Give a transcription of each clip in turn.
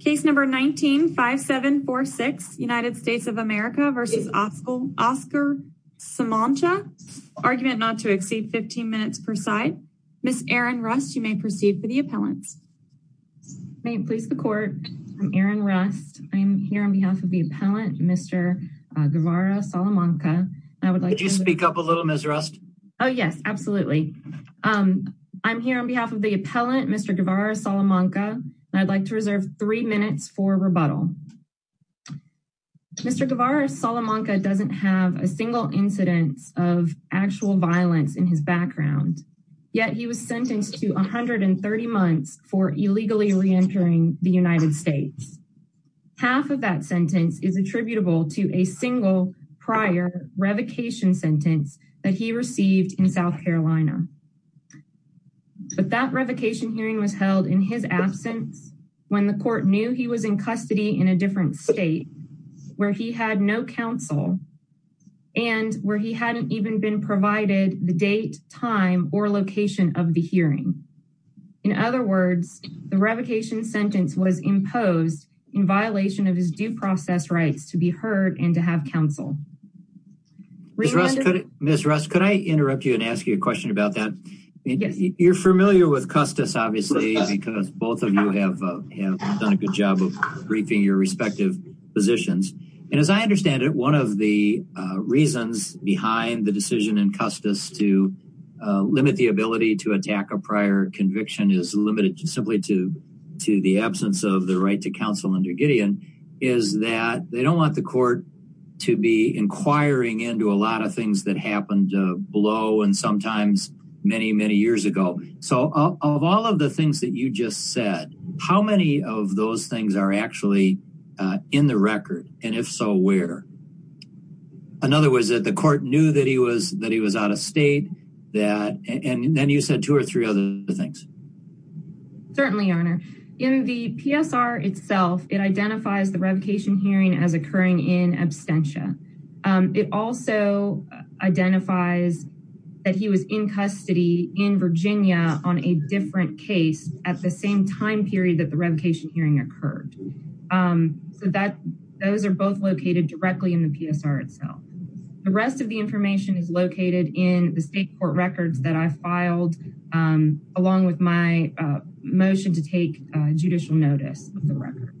Case number 19-5746 United States of America v. Oscar Salamanca, argument not to exceed 15 minutes per side. Ms. Erin Rust, you may proceed for the appellants. May it please the court, I'm Erin Rust. I'm here on behalf of the appellant Mr. Guevara Salamanca. Could you speak up a little Ms. Rust? Oh yes, absolutely. I'm here on behalf the appellant Mr. Guevara Salamanca, and I'd like to reserve three minutes for rebuttal. Mr. Guevara Salamanca doesn't have a single incidence of actual violence in his background, yet he was sentenced to 130 months for illegally re-entering the United States. Half of that sentence is attributable to a single prior revocation sentence that he received in hearing was held in his absence when the court knew he was in custody in a different state where he had no counsel and where he hadn't even been provided the date, time, or location of the hearing. In other words, the revocation sentence was imposed in violation of his due process rights to be heard and to have counsel. Ms. Rust, could I interrupt you and ask you a question about that? You're familiar with Custis obviously because both of you have done a good job of briefing your respective positions, and as I understand it, one of the reasons behind the decision in Custis to limit the ability to attack a prior conviction is limited simply to the absence of the right to counsel under Gideon is that they don't want the court to be inquiring into a lot of things that so of all of the things that you just said, how many of those things are actually in the record, and if so, where? In other words, the court knew that he was out of state, and then you said two or three other things. Certainly, your honor. In the PSR itself, it identifies the revocation hearing as occurring in absentia. It also identifies that he was in custody in Virginia on a different case at the same time period that the revocation hearing occurred, so those are both located directly in the PSR itself. The rest of the information is located in the state court records that I filed along with my motion to take judicial notice of the record,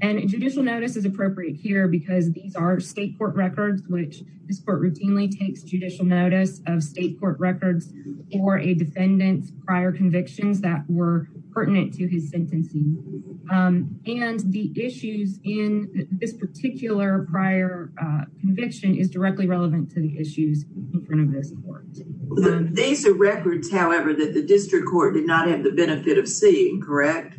and judicial notice is appropriate here because these are state court records, which this court routinely takes judicial notice of state court records for a defendant's prior convictions that were pertinent to his sentencing, and the issues in this particular prior conviction is directly relevant to the issues in front of this court. These are records, however, that the district court did not have the benefit of seeing, correct?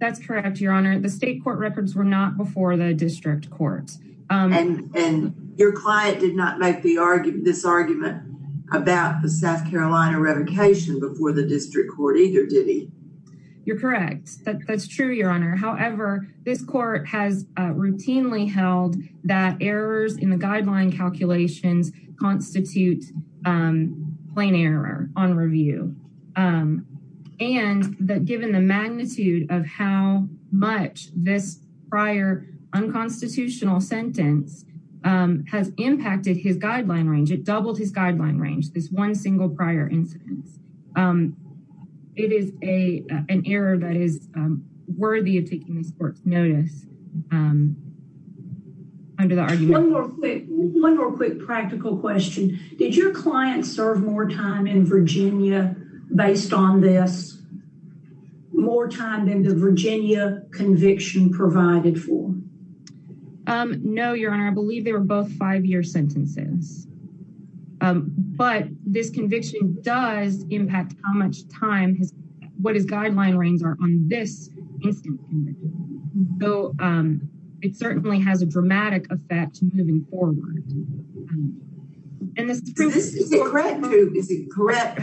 That's correct, your honor. The state court records were not before the district court, and your client did not make this argument about the South Carolina revocation before the district court either, did he? You're correct. That's true, your honor. However, this court has routinely held that errors in the this prior unconstitutional sentence has impacted his guideline range. It doubled his guideline range, this one single prior incidence. It is an error that is worthy of taking this court's notice under the argument. One more quick practical question. Did your client serve more time in conviction provided for? No, your honor. I believe they were both five-year sentences, but this conviction does impact how much time his what his guideline reigns are on this incident, though it certainly has a dramatic effect moving forward, and this is correct too, is it correct?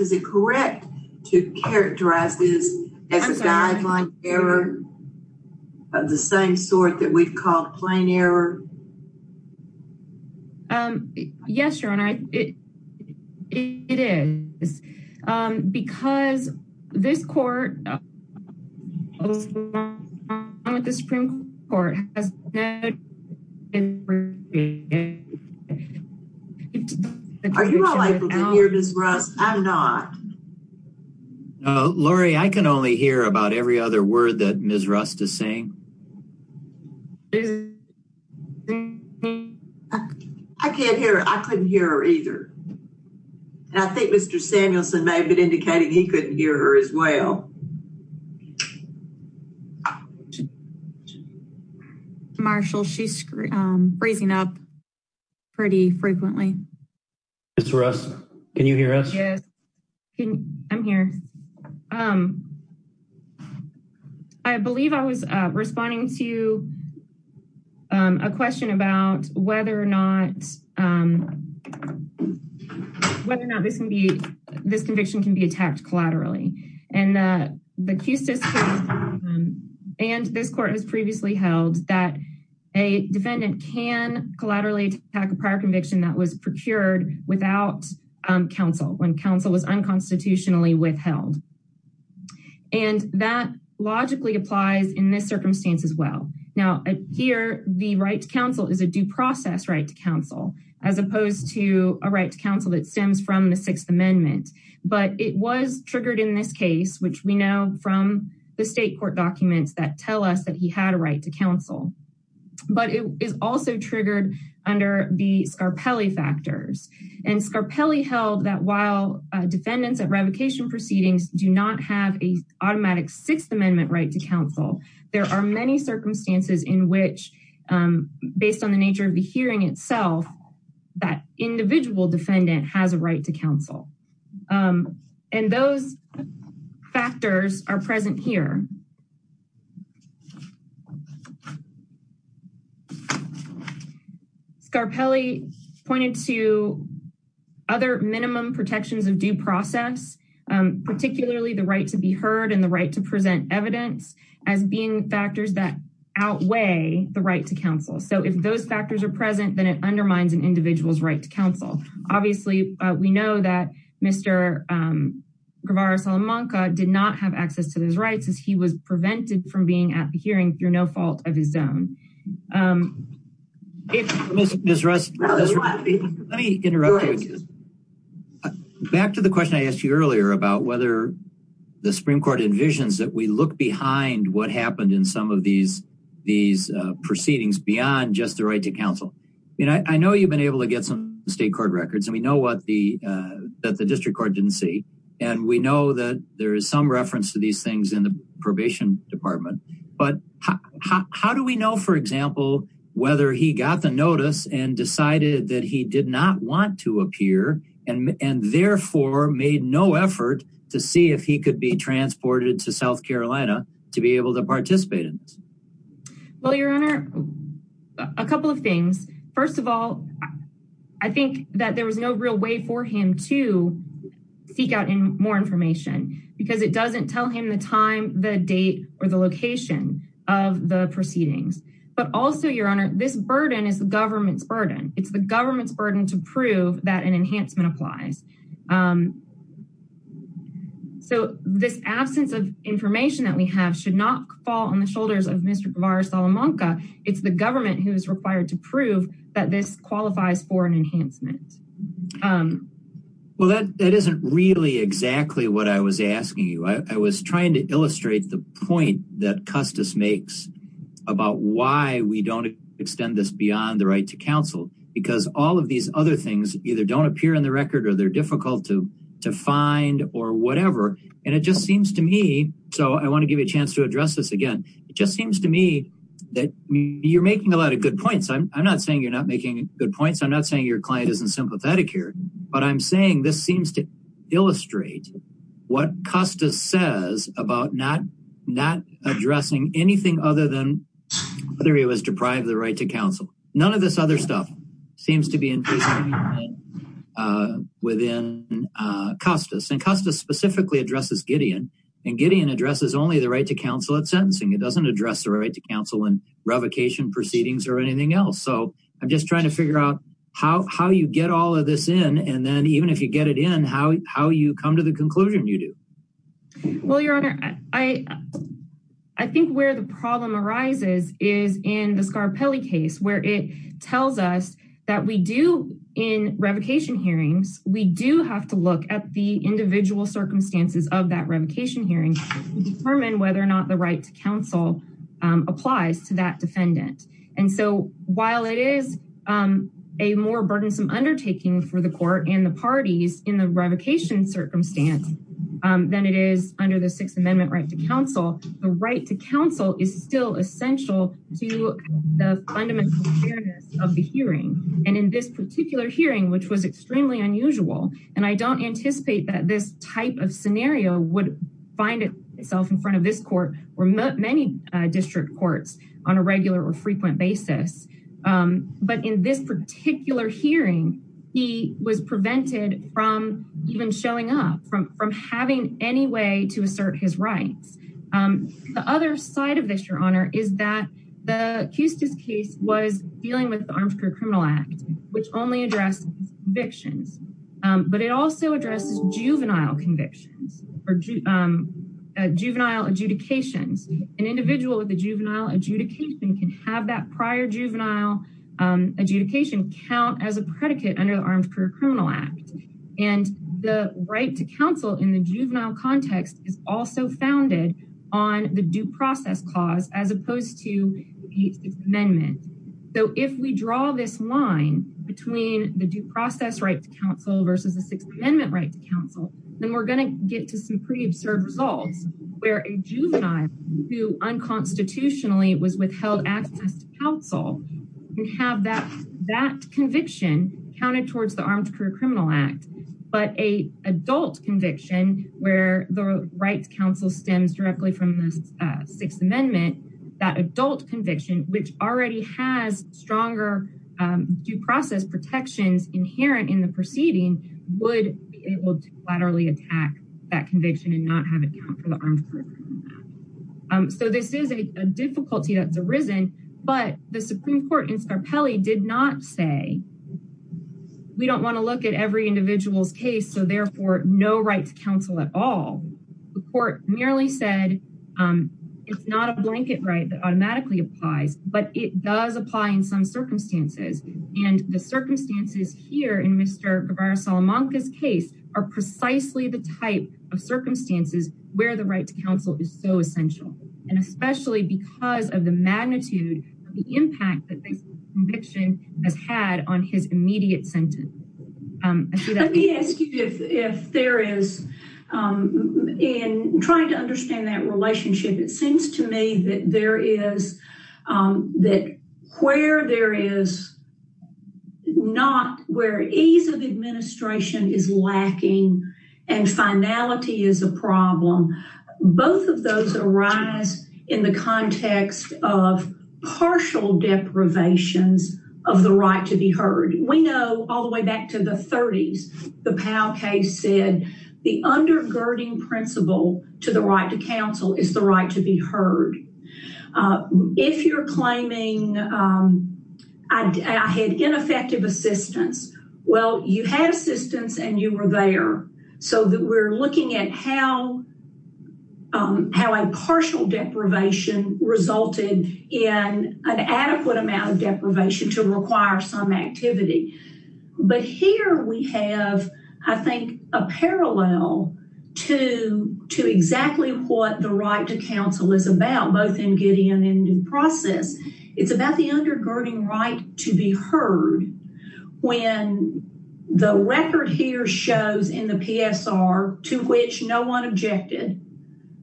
Is it correct to characterize this as a guideline error of the same sort that we've called plain error? Yes, your honor, it is because this court has not had time with the Supreme Court. Are you all able to hear Ms. Rust? I'm not. No, Lori, I can only hear about every other word that Ms. Rust is saying. I can't hear her. I couldn't hear her either, and I think Mr. Samuelson may have been indicating he couldn't hear her as well. Marshall, she's freezing up pretty frequently. Ms. Rust, can you hear us? Yes, I'm here. I believe I was responding to a question about whether or not whether or not this can be this conviction can be attacked collaterally, and the QCIS and this court has previously held that a defendant can collaterally attack a prior conviction that was procured without counsel when counsel was unconstitutionally withheld, and that logically applies in this circumstance as well. Now, here the right to counsel is a right to counsel that stems from the Sixth Amendment, but it was triggered in this case, which we know from the state court documents that tell us that he had a right to counsel, but it is also triggered under the Scarpelli factors, and Scarpelli held that while defendants at revocation proceedings do not have a automatic Sixth Amendment right to counsel, there are many circumstances in which, based on the nature of the hearing itself, that individual defendant has a right to counsel, and those factors are present here. Scarpelli pointed to other minimum protections of due process, particularly the right to be heard and the right to present evidence as being factors that outweigh the right to counsel, so if those factors are present, then it undermines an individual's right to counsel. Obviously, we know that Mr. Guevara Salamanca did not have access to those rights as he was prevented from being at the hearing through no fault of his own. Back to the question I asked you earlier about whether the Supreme Court envisions that we look behind what happened in some of these proceedings beyond just the right to counsel. I know you've been able to get some state court records, and we know that the district court didn't see, and we know that there is some reference to these things in the probation department, but how do we know, for example, whether he got the notice and decided that he did not want to appear and therefore made no effort to see if he could be transported to South Carolina to be able to participate in this? Well, Your Honor, a couple of things. First of all, I think that there was no real way for him to seek out more information because it doesn't tell him the time, the date, or the location of the proceedings, but also, Your Honor, this burden is the government's burden. It's the government's burden. So this absence of information that we have should not fall on the shoulders of Mr. Guevara Salamanca. It's the government who is required to prove that this qualifies for an enhancement. Well, that isn't really exactly what I was asking you. I was trying to illustrate the point that Custis makes about why we don't extend this beyond the right to counsel because all of these other things either don't appear in the record or they're difficult to find or whatever, and it just seems to me, so I want to give you a chance to address this again, it just seems to me that you're making a lot of good points. I'm not saying you're not making good points. I'm not saying your client isn't sympathetic here, but I'm saying this seems to illustrate what Custis says about not addressing anything other than whether he was deprived of the right to counsel. None of this other stuff seems to be increasing within Custis. And Custis specifically addresses Gideon, and Gideon addresses only the right to counsel at sentencing. It doesn't address the right to counsel in revocation proceedings or anything else. So I'm just trying to figure out how you get all of this in, and then even if you get it in, how you come to the conclusion you do. Well, your honor, I think where the problem arises is in the Scarapelli case, where it tells us that we do in revocation hearings, we do have to look at the individual circumstances of that revocation hearing to determine whether or not the right to counsel applies to that defendant. And so while it is a more burdensome undertaking for the court and the parties in the revocation circumstance than it is under the Sixth Amendment right to counsel, the right to counsel is still essential to the fundamental fairness of the hearing. And in this particular hearing, which was extremely unusual, and I don't anticipate that this type of scenario would find itself in front of this court or many district courts on a regular or frequent basis. But in this particular hearing, he was prevented from even showing up, from having any way to assert his rights. The other side of this, your honor, is that the Custis case was dealing with the Armed Career Criminal Act, which only addressed convictions, but it also addresses juvenile convictions or juvenile adjudications. An individual with a juvenile adjudication can have that prior juvenile adjudication count as a predicate under the Armed Career Criminal Act. And the right to counsel in the juvenile context is also founded on the due process clause as opposed to the Sixth Amendment. So if we draw this line between the due process right to counsel versus the Sixth Amendment right to counsel, then we're going to get to some pretty absurd results where a juvenile who unconstitutionally was withheld access to counsel can have that conviction counted towards the Armed Career Criminal Act, but an adult conviction where the right to counsel stems directly from the Sixth Amendment, that adult conviction, which already has stronger due process protections inherent in the proceeding, would be able to laterally attack that Armed Career Criminal Act. So this is a difficulty that's arisen, but the Supreme Court in Scarpelli did not say, we don't want to look at every individual's case, so therefore no right to counsel at all. The court merely said it's not a blanket right that automatically applies, but it does apply in some circumstances, and the circumstances here in Mr. Guevara-Salamanca's case are precisely the type of circumstances where the right to counsel is so essential, and especially because of the magnitude of the impact that this conviction has had on his immediate sentence. Let me ask you if there is, in trying to understand that relationship, it seems to me that where there is not where ease of administration is lacking and finality is a problem, both of those arise in the context of partial deprivations of the right to be heard. We know all the way back to the 30s, the Powell case said the undergirding principle to the right to counsel is the right to be heard. If you're claiming I had ineffective assistance, well you had assistance and you were there, so that we're looking at how a partial deprivation resulted in an adequate amount of deprivation to require some activity, but here we have, I think, a parallel to exactly what the right to counsel is about, both in Gideon and in process. It's about the undergirding right to be heard when the record here shows in the PSR, to which no one objected,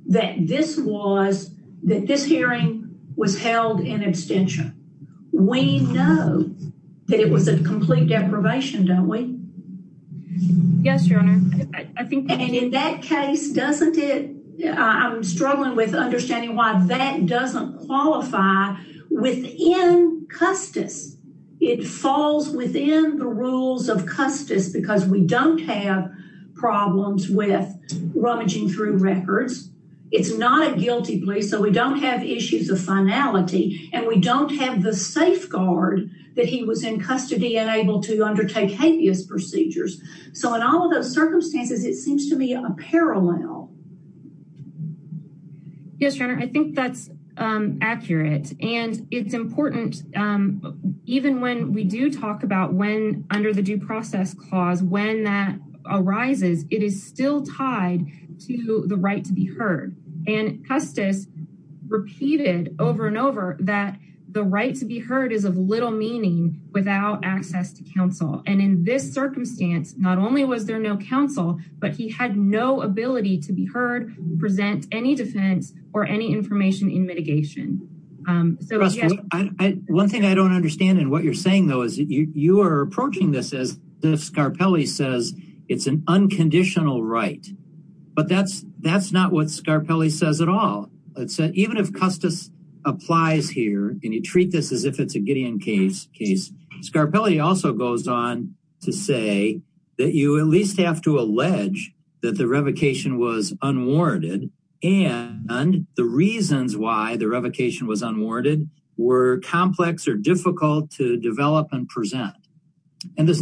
that this hearing was held in abstention. We know that it was a And in that case, doesn't it, I'm struggling with understanding why that doesn't qualify within Custis. It falls within the rules of Custis because we don't have problems with rummaging through records. It's not a guilty plea, so we don't have issues of finality and we don't have the safeguard that he was in custody and able to undertake habeas procedures. So in all of those circumstances, it seems to be a parallel. Yes, Jenner, I think that's accurate and it's important even when we do talk about when under the due process clause, when that arises, it is still tied to the right to be heard and Custis repeated over and over that the right to be heard is of without access to counsel. And in this circumstance, not only was there no counsel, but he had no ability to be heard, present any defense or any information in mitigation. One thing I don't understand and what you're saying though, is you are approaching this as the Scarpelli says, it's an unconditional right, but that's not what Scarpelli says at all. Even if Custis applies here and you treat this as if it's a Gideon case, Scarpelli also goes on to say that you at least have to allege that the revocation was unwarranted and the reasons why the revocation was unwarranted were complex or difficult to develop and present. And there's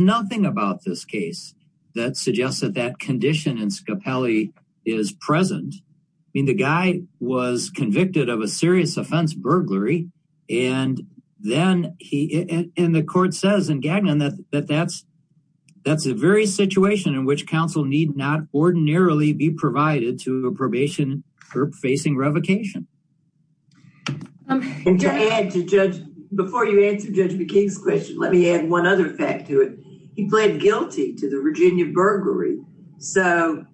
of a serious offense burglary. And then he, and the court says in Gagnon that that's, that's a very situation in which counsel need not ordinarily be provided to a probation or facing revocation. Before you answer Judge McKee's question, let me add one other fact to it. He pled guilty to the Virginia burglary. So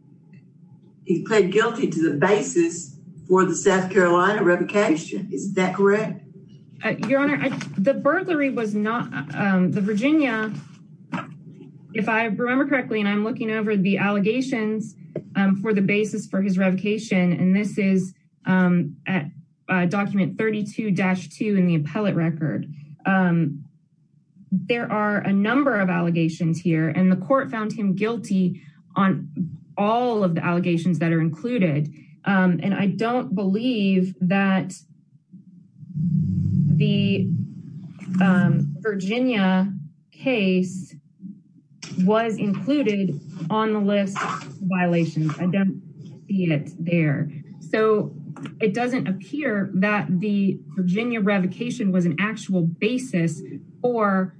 he pled guilty to the basis for the South Carolina revocation. Is that correct? Your Honor, the burglary was not, the Virginia, if I remember correctly, and I'm looking over the allegations for the basis for his revocation, and this is at document 32-2 in the appellate record. There are a number of allegations here and the court found him guilty on all of the allegations that are included. And I don't believe that the Virginia case was included on the list of violations. I don't see it there. So it doesn't appear that the Virginia revocation was an actual basis for,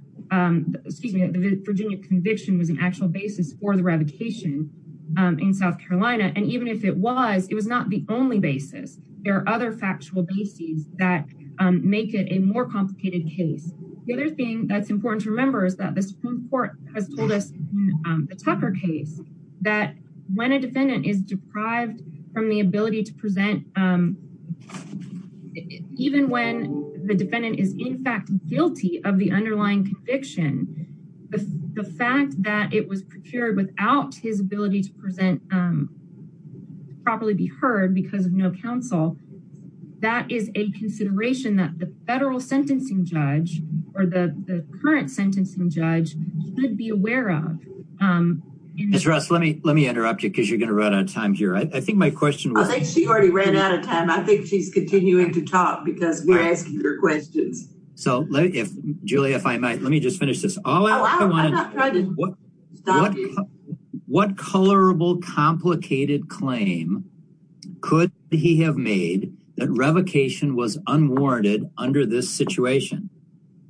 excuse me, the Virginia conviction was an actual basis for the revocation in South Carolina. And even if it was, it was not the only basis. There are other factual bases that make it a more complicated case. The other thing that's important to remember is that the Supreme Court has told us in the Tucker case that when a defendant is deprived from the ability to present, even when the defendant is in fact guilty of the underlying conviction, the fact that it was procured without his ability to present, um, properly be heard because of no counsel, that is a consideration that the federal sentencing judge or the current sentencing judge should be aware of. Um, Ms. Russ, let me, let me interrupt you because you're going to run out of time here. I think my question, I think she already ran out of time. I think she's continuing to talk because we're asking her questions. So if Julie, if I let me just finish this. What colorable complicated claim could he have made that revocation was unwarranted under this situation,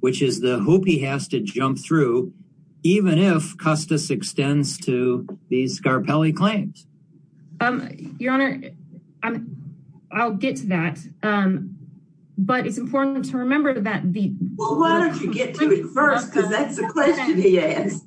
which is the hoop he has to jump through, even if Custis extends to these Scarpelli claims. Um, your honor, I'm, I'll get to that. Um, but it's important to remember that the, well, why don't you get to it first? Because that's the question he asked.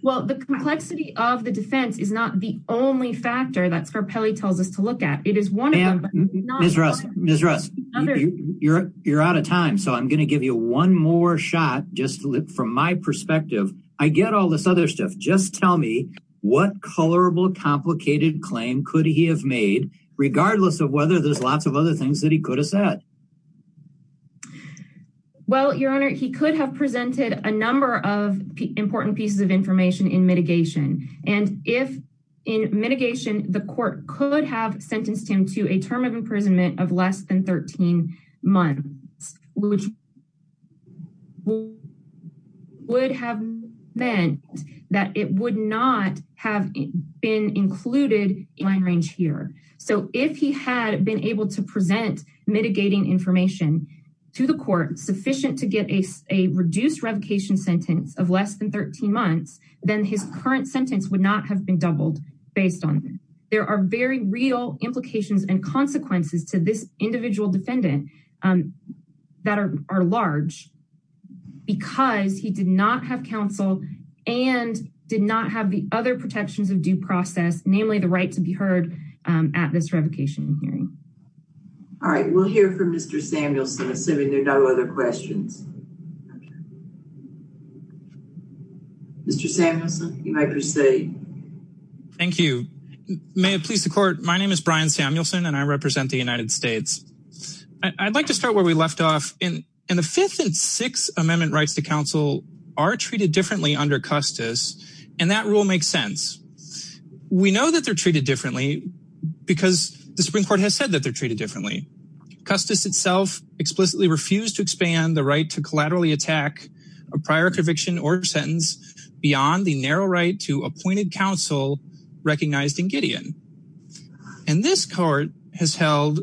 Well, the complexity of the defense is not the only factor that Scarpelli tells us to look at. It is one of them. Ms. Russ, Ms. Russ, you're, you're out of time. So I'm going to give you one more shot. Just from my perspective, I get all this other stuff. Just tell me what colorable complicated claim could he have made regardless of whether there's Well, your honor, he could have presented a number of important pieces of information in mitigation. And if in mitigation, the court could have sentenced him to a term of imprisonment of less than 13 months, which would have meant that it would not have been included in my range here. So if he had been able to present mitigating information to the court, sufficient to get a, a reduced revocation sentence of less than 13 months, then his current sentence would not have been doubled based on there are very real implications and consequences to this individual defendant, um, that are, are large because he did not have counsel and did not have the other protections of due process, namely the right to be heard, um, at this revocation hearing. All right. We'll hear from Mr. Samuelson, assuming there are no other questions. Mr. Samuelson, you may proceed. Thank you. May it please the court. My name is Brian Samuelson and I represent the United States. I'd like to start where we left off in, in the fifth and sixth amendment rights to counsel are treated differently under Custis. And that rule makes sense. We know that they're treated differently because the Supreme court has said that they're treated differently. Custis itself explicitly refused to expand the right to collaterally attack a prior conviction or sentence beyond the narrow right to appointed counsel recognized in Gideon. And this court has held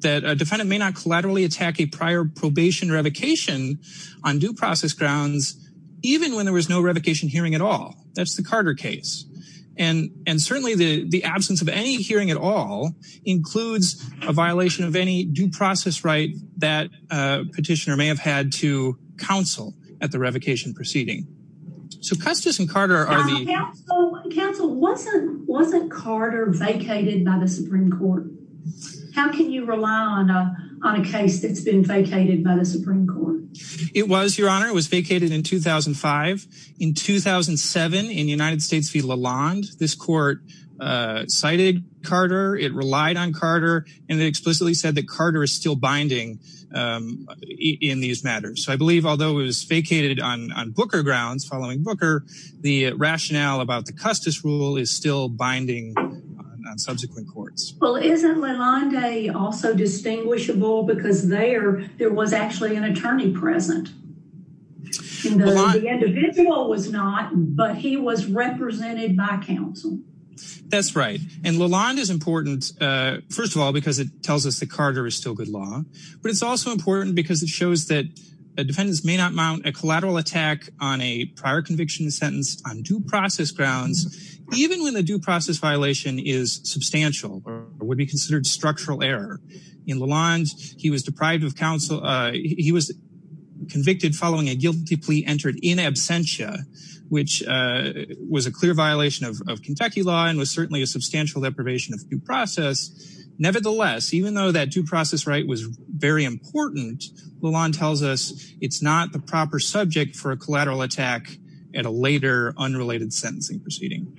that a defendant may not collaterally attack a prior probation revocation on due grounds, even when there was no revocation hearing at all. That's the Carter case. And, and certainly the, the absence of any hearing at all includes a violation of any due process, right? That a petitioner may have had to counsel at the revocation proceeding. So Custis and Carter are the counsel wasn't, wasn't Carter vacated by the Supreme court. How can you rely on a, on a case that's been vacated by the Supreme court? It was your honor. It was vacated in 2005 in 2007 in United States v. Lalonde. This court cited Carter. It relied on Carter. And they explicitly said that Carter is still binding in these matters. So I believe, although it was vacated on, on Booker grounds, following Booker, the rationale about the Custis rule is still because there, there was actually an attorney present. The individual was not, but he was represented by counsel. That's right. And Lalonde is important. First of all, because it tells us that Carter is still good law, but it's also important because it shows that a defendants may not mount a collateral attack on a prior conviction sentence on due process grounds, even when the due process violation is substantial or would be considered structural error. In Lalonde, he was deprived of counsel. He was convicted following a guilty plea entered in absentia, which was a clear violation of Kentucky law and was certainly a substantial deprivation of due process. Nevertheless, even though that due process right was very important, Lalonde tells us it's not the proper subject for a collateral attack at a later unrelated sentencing proceeding.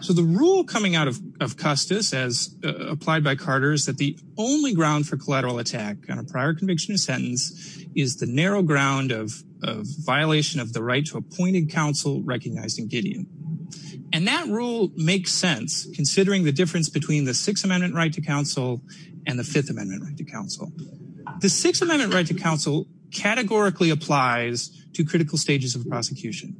So the rule coming out of, of Custis as applied by Carter is that the only ground for collateral attack on a prior conviction of sentence is the narrow ground of, of violation of the right to appointed counsel recognized in Gideon. And that rule makes sense considering the difference between the Sixth Amendment right to counsel and the Fifth Amendment right to counsel. The Sixth Amendment right to counsel categorically applies to critical stages of prosecution.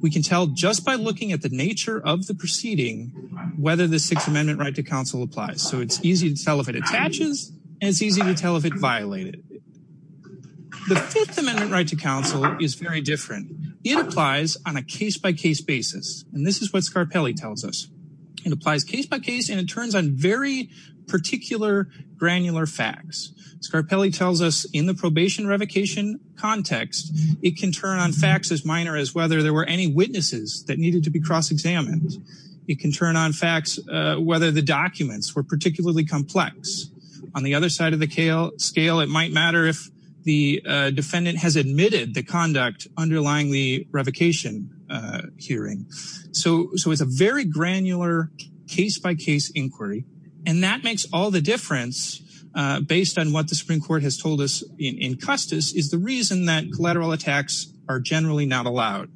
We can tell just by looking at the nature of the proceeding, whether the Sixth Amendment right to counsel applies. So it's easy to tell if it attaches and it's easy to tell if it violated. The Fifth Amendment right to counsel is very different. It applies on a case-by-case basis. And this is what Scarpelli tells us. It applies case-by-case and it turns on very particular granular facts. Scarpelli tells us in the probation revocation context, it can turn on facts as minor as whether there were any cross-examined. It can turn on facts, whether the documents were particularly complex. On the other side of the scale, it might matter if the defendant has admitted the conduct underlying the revocation hearing. So, so it's a very granular case-by-case inquiry and that makes all the difference based on what the Supreme Court has told us in Custis is the reason that collateral attacks are generally not allowed.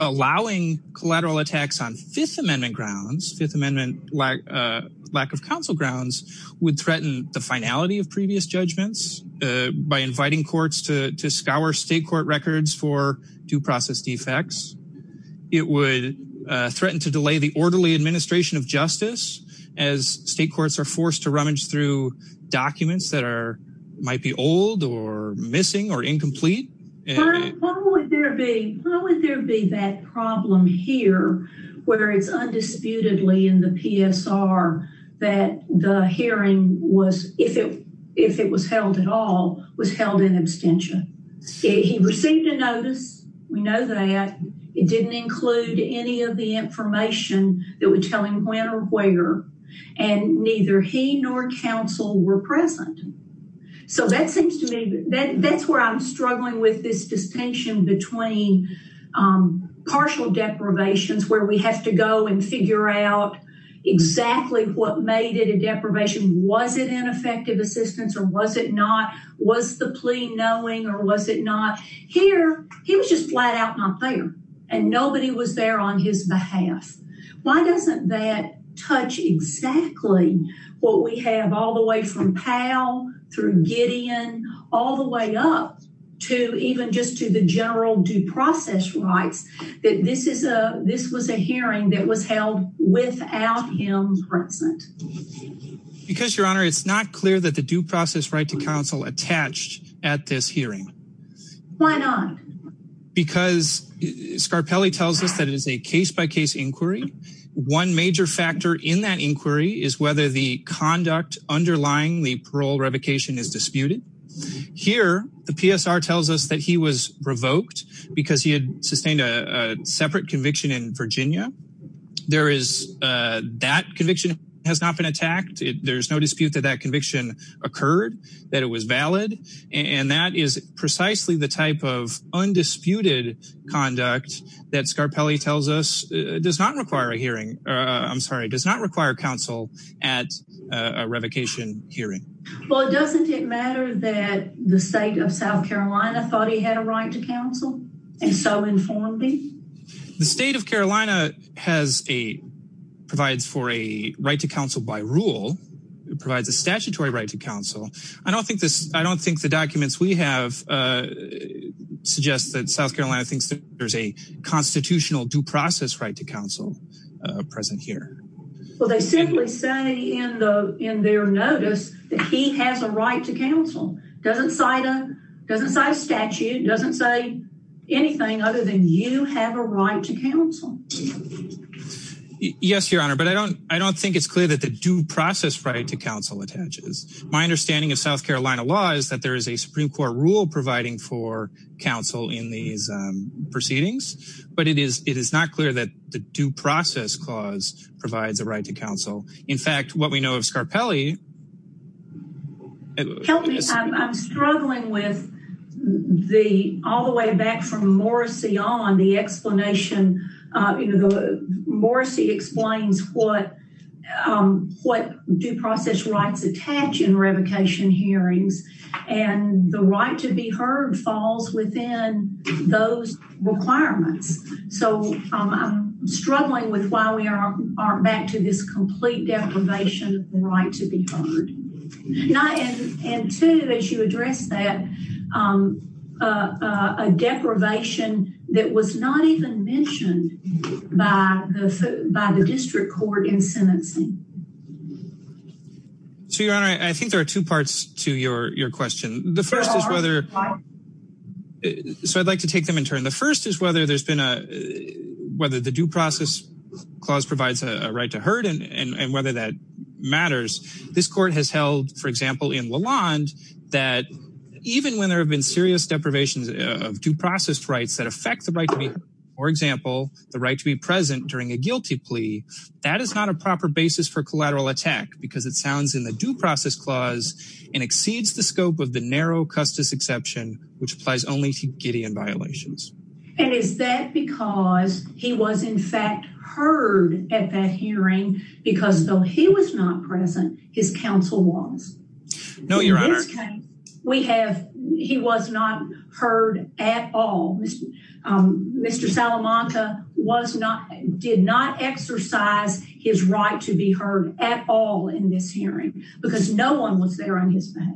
Allowing collateral attacks on Fifth Amendment grounds, Fifth Amendment lack of counsel grounds would threaten the finality of previous judgments by inviting courts to scour state court records for due process defects. It would threaten to delay the orderly administration of justice as state courts are forced to rummage through documents that are, might be old or missing or incomplete. Why would there be, why would there be that problem here where it's undisputedly in the PSR that the hearing was, if it, if it was held at all, was held in abstention. He received a notice, we know that. It didn't include any of the information that would tell him when or where and neither he nor counsel were present. So that seems to me, that's where I'm struggling with this distinction between partial deprivations where we have to go and figure out exactly what made it a deprivation. Was it ineffective assistance or was it not? Was the plea knowing or was it not? Here, he was just flat out not there and nobody was there on his behalf. Why doesn't that touch exactly what we have all the way from Powell through Gideon, all the way up to even just to the general due process rights that this is a, this was a hearing that was held without him present. Because your honor, it's not clear that the due process right inquiry. One major factor in that inquiry is whether the conduct underlying the parole revocation is disputed. Here, the PSR tells us that he was revoked because he had sustained a separate conviction in Virginia. There is, that conviction has not been attacked. There's no dispute that that conviction occurred, that it was valid, and that is precisely the type of undisputed conduct that Scarpelli tells us does not require a hearing. I'm sorry, does not require counsel at a revocation hearing. Well, doesn't it matter that the state of South Carolina thought he had a right to counsel and so informed me? The state of Carolina has a, provides for a right to counsel by rule. It provides a statutory right to counsel. I don't think this, I don't think the documents we have suggest that South Carolina thinks there's a constitutional due process right to counsel present here. Well, they simply say in the, in their notice that he has a right to counsel. Doesn't cite a, doesn't cite a statute, doesn't say anything other than you have a right to counsel. Yes, your honor, but I don't, I don't think it's clear that the due process right to counsel attaches. My understanding of South Carolina law is that there is a Supreme Court rule providing for counsel in these proceedings, but it is, it is not clear that the due process clause provides a right to counsel. In fact, what we know of Scarpelli... Help me, I'm struggling with the, all the way back from Morrissey on the explanation, you know, the Morrissey explains what, what due process rights attach in revocation hearings and the right to be heard falls within those requirements. So, I'm struggling with why we are aren't back to this complete deprivation of the right to be heard. And two, as you address that, a deprivation that was not even mentioned by the, by the district court in sentencing. So, your honor, I think there are two parts to your, your question. The first is whether, so I'd like to take them in turn. The first is whether there's been a, whether the due process clause provides a right to heard and, and, and whether that matters. This court has held, for example, in Lalonde that even when there have been serious deprivations of due process rights that affect the right to be heard, for example, the right to be present during a guilty plea, that is not a proper basis for collateral attack because it sounds in the due process clause and exceeds the scope of the narrow custis exception, which applies only to Gideon violations. And is that because he was in fact heard at that hearing because though he was not his counsel was. No, your honor. We have, he was not heard at all. Mr. Salamanca was not, did not exercise his right to be heard at all in this hearing because no one was there on his behalf.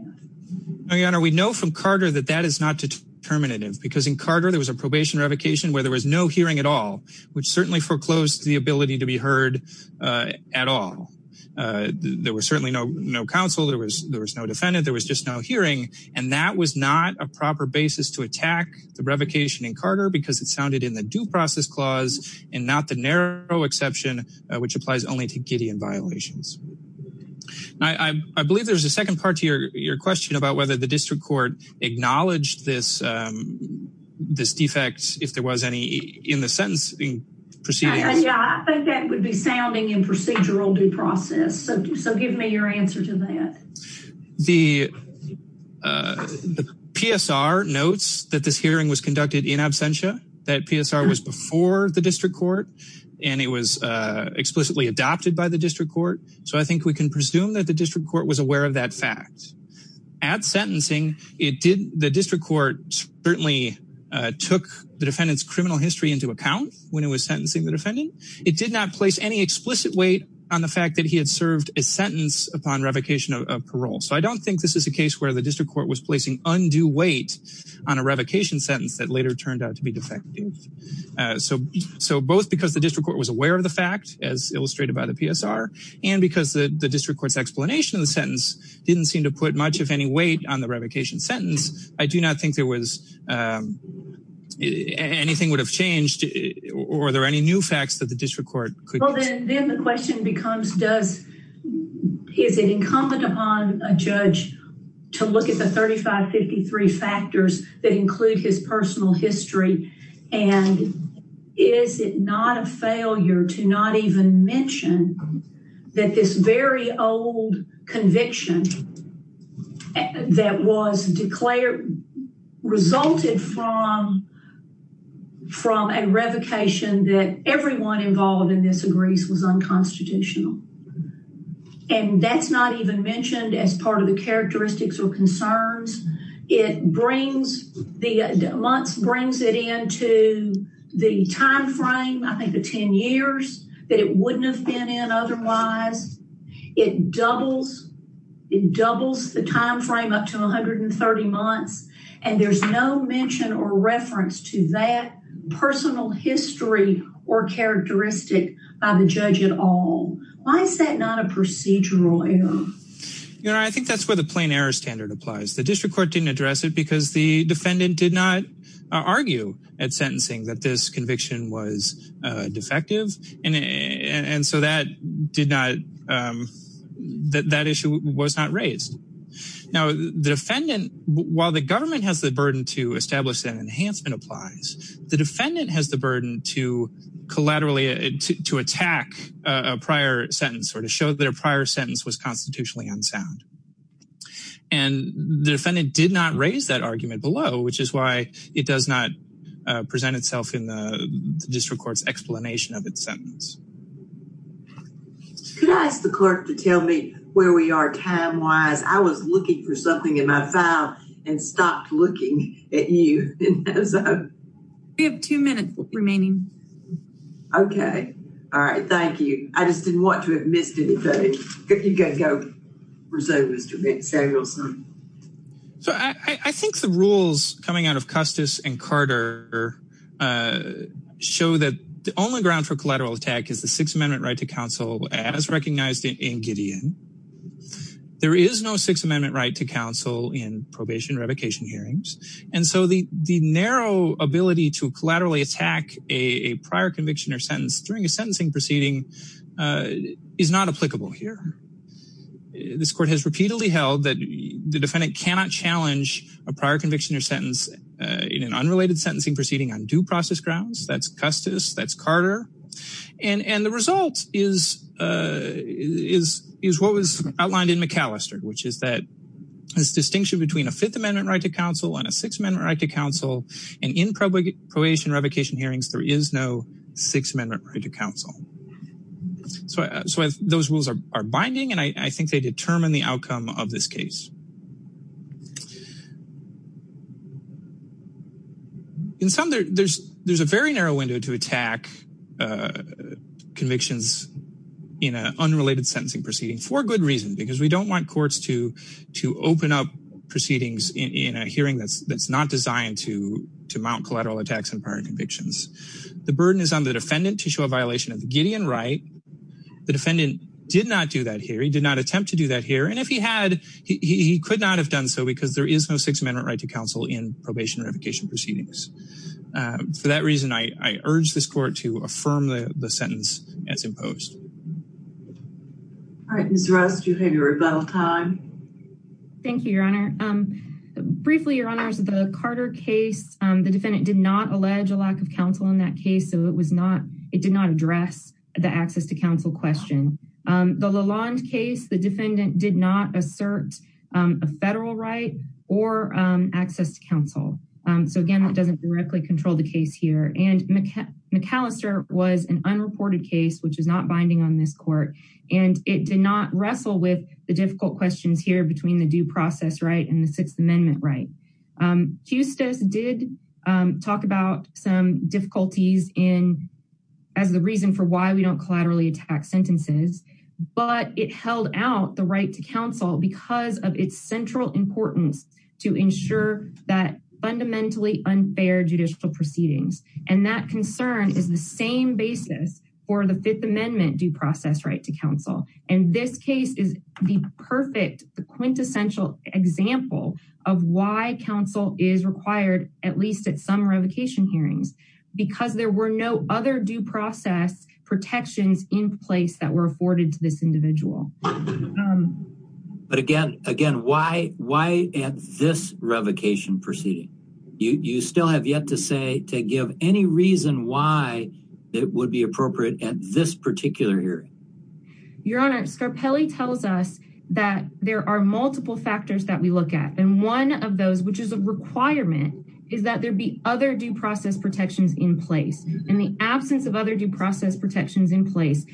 No, your honor. We know from Carter that that is not determinative because in Carter, there was a probation revocation where there was no hearing at all, which certainly foreclosed the ability to there was certainly no, no counsel. There was, there was no defendant. There was just no hearing. And that was not a proper basis to attack the revocation in Carter because it sounded in the due process clause and not the narrow exception, which applies only to Gideon violations. And I, I, I believe there's a second part to your, your question about whether the district court acknowledged this, this defect, if there was any in the sentence proceeding. I think that would be sounding in procedural due process. So, so give me your answer to that. The, uh, the PSR notes that this hearing was conducted in absentia, that PSR was before the district court and it was, uh, explicitly adopted by the district court. So I think we can presume that the district court was aware of that fact at sentencing. It did the district court certainly, uh, took the defendant's criminal history into account when it was sentencing the defendant. It did not place any explicit weight on the fact that he had served a sentence upon revocation of parole. So I don't think this is a case where the district court was placing undue weight on a revocation sentence that later turned out to be defective. Uh, so, so both because the district court was aware of the fact as illustrated by the PSR and because the district court's explanation of the sentence didn't seem to put much of any weight on the revocation sentence. I do not think there was, um, anything would have changed or are there any new facts that the district court could. Well, then the question becomes, does, is it incumbent upon a judge to look at the 3553 factors that include his personal history? And is it not a failure to mention that this very old conviction that was declared resulted from, from a revocation that everyone involved in this agrees was unconstitutional. And that's not even mentioned as part of the characteristics or concerns. It brings the months, brings it into the timeframe, I think the 10 years that it wouldn't have been in otherwise. It doubles, it doubles the timeframe up to 130 months and there's no mention or reference to that personal history or characteristic by the judge at all. Why is that not a procedural error? You know, I think that's where the plain error standard applies. The court didn't address it because the defendant did not argue at sentencing that this conviction was defective. And, and so that did not, um, that that issue was not raised. Now the defendant, while the government has the burden to establish that enhancement applies, the defendant has the burden to collaterally, to attack a prior sentence or to show that a prior sentence was constitutionally unsound. And the defendant did not raise that argument below, which is why it does not present itself in the district court's explanation of its sentence. Could I ask the clerk to tell me where we are time-wise? I was looking for something in my file and stopped looking at you. We have two minutes remaining. Okay. All right. Thank you. I just gotta go. So I think the rules coming out of Custis and Carter, uh, show that the only ground for collateral attack is the Sixth Amendment right to counsel as recognized in Gideon. There is no Sixth Amendment right to counsel in probation revocation hearings. And so the, the narrow ability to collaterally attack a prior conviction or sentence during a sentencing proceeding, uh, is not applicable here. This court has repeatedly held that the defendant cannot challenge a prior conviction or sentence, uh, in an unrelated sentencing proceeding on due process grounds. That's Custis, that's Carter. And, and the result is, uh, is, is what was outlined in McAllister, which is that this distinction between a Fifth Amendment right to counsel and a Sixth Amendment right to counsel, and in probation revocation hearings, there is no Sixth Amendment right to counsel. So, so those rules are, are binding and I, I think they determine the outcome of this case. In some there, there's, there's a very narrow window to attack, uh, convictions in an unrelated sentencing proceeding for good reason, because we don't want courts to, to open up proceedings in, in a hearing that's, that's not designed to, to mount collateral attacks on prior convictions. The burden is on the defendant to show a violation of the Gideon right. The defendant did not do that here. He did not attempt to do that here. And if he had, he could not have done so because there is no Sixth Amendment right to counsel in probation revocation proceedings. Uh, for that reason, I, I urge this court to affirm the, the sentence as imposed. All right, Ms. Rust, you have your rebuttal time. Thank you, Your Honor. Um, briefly, Your Honors, the Carter case, um, the defendant did not allege a lack of counsel in that case. So it was not, it did not address the access to counsel question. Um, the Lalonde case, the defendant did not assert, um, a federal right or, um, access to counsel. Um, so again, that doesn't directly control the case here. And McAllister was an unreported case, which is not binding on this court. And it did not wrestle with the difficult questions here between the due process right and the Sixth Amendment right. Um, Hustos did, um, talk about some difficulties in, as the reason for why we don't collaterally attack sentences, but it held out the right to counsel because of its central importance to ensure that fundamentally unfair judicial proceedings. And that concern is the same basis for the Fifth Amendment due process right to counsel. And this case is the perfect, the quintessential example of why counsel is required, at least at some revocation hearings, because there were no other due process protections in place that were afforded to this individual. Um, but again, again, why, why at this revocation proceeding, you, you still have yet to say, to give any reason why it would be appropriate at this particular hearing. Your Honor, Scarpelli tells us that there are multiple factors that we look at. And one of those, which is a requirement is that there'd be other due process protections in place. And the absence of other due process protections in place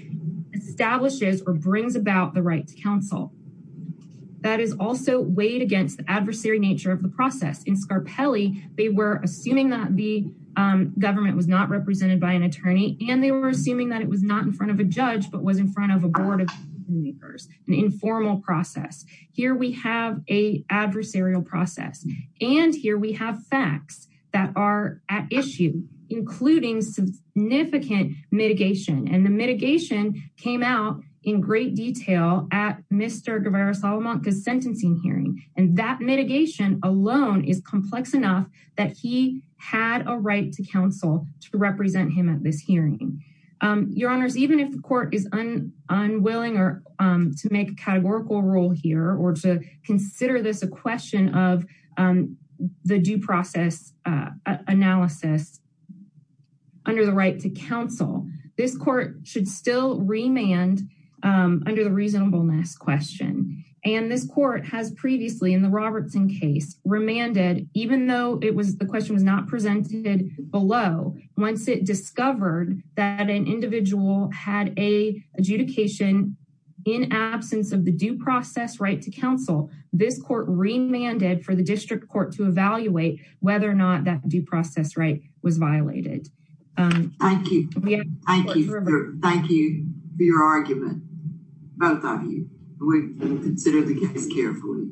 establishes or brings about the right to counsel. That is also weighed against the adversary nature of the process. In Scarpelli, they were assuming that the, um, government was not represented by an attorney and they were assuming that it was not in front of a judge, but was in front of a board of lawmakers, an informal process. Here we have a adversarial process and here we have facts that are at issue, including some significant mitigation. And the mitigation came out in great detail at Mr. Guevara-Salamanca's sentencing hearing. And that mitigation alone is complex enough that he had a right to counsel to represent him at this hearing. Your Honors, even if the court is unwilling to make a categorical rule here or to consider this a question of the due process analysis under the right to counsel, this court should still remand under the reasonableness question. And this court has previously in the Robertson case remanded, even though it was, the question was not presented below. Once it discovered that an individual had a adjudication in absence of the due process right to counsel, this court remanded for the district court to evaluate whether or not that due process right was violated. Thank you. Thank you. Thank you for your argument, both of you. We will consider the case carefully.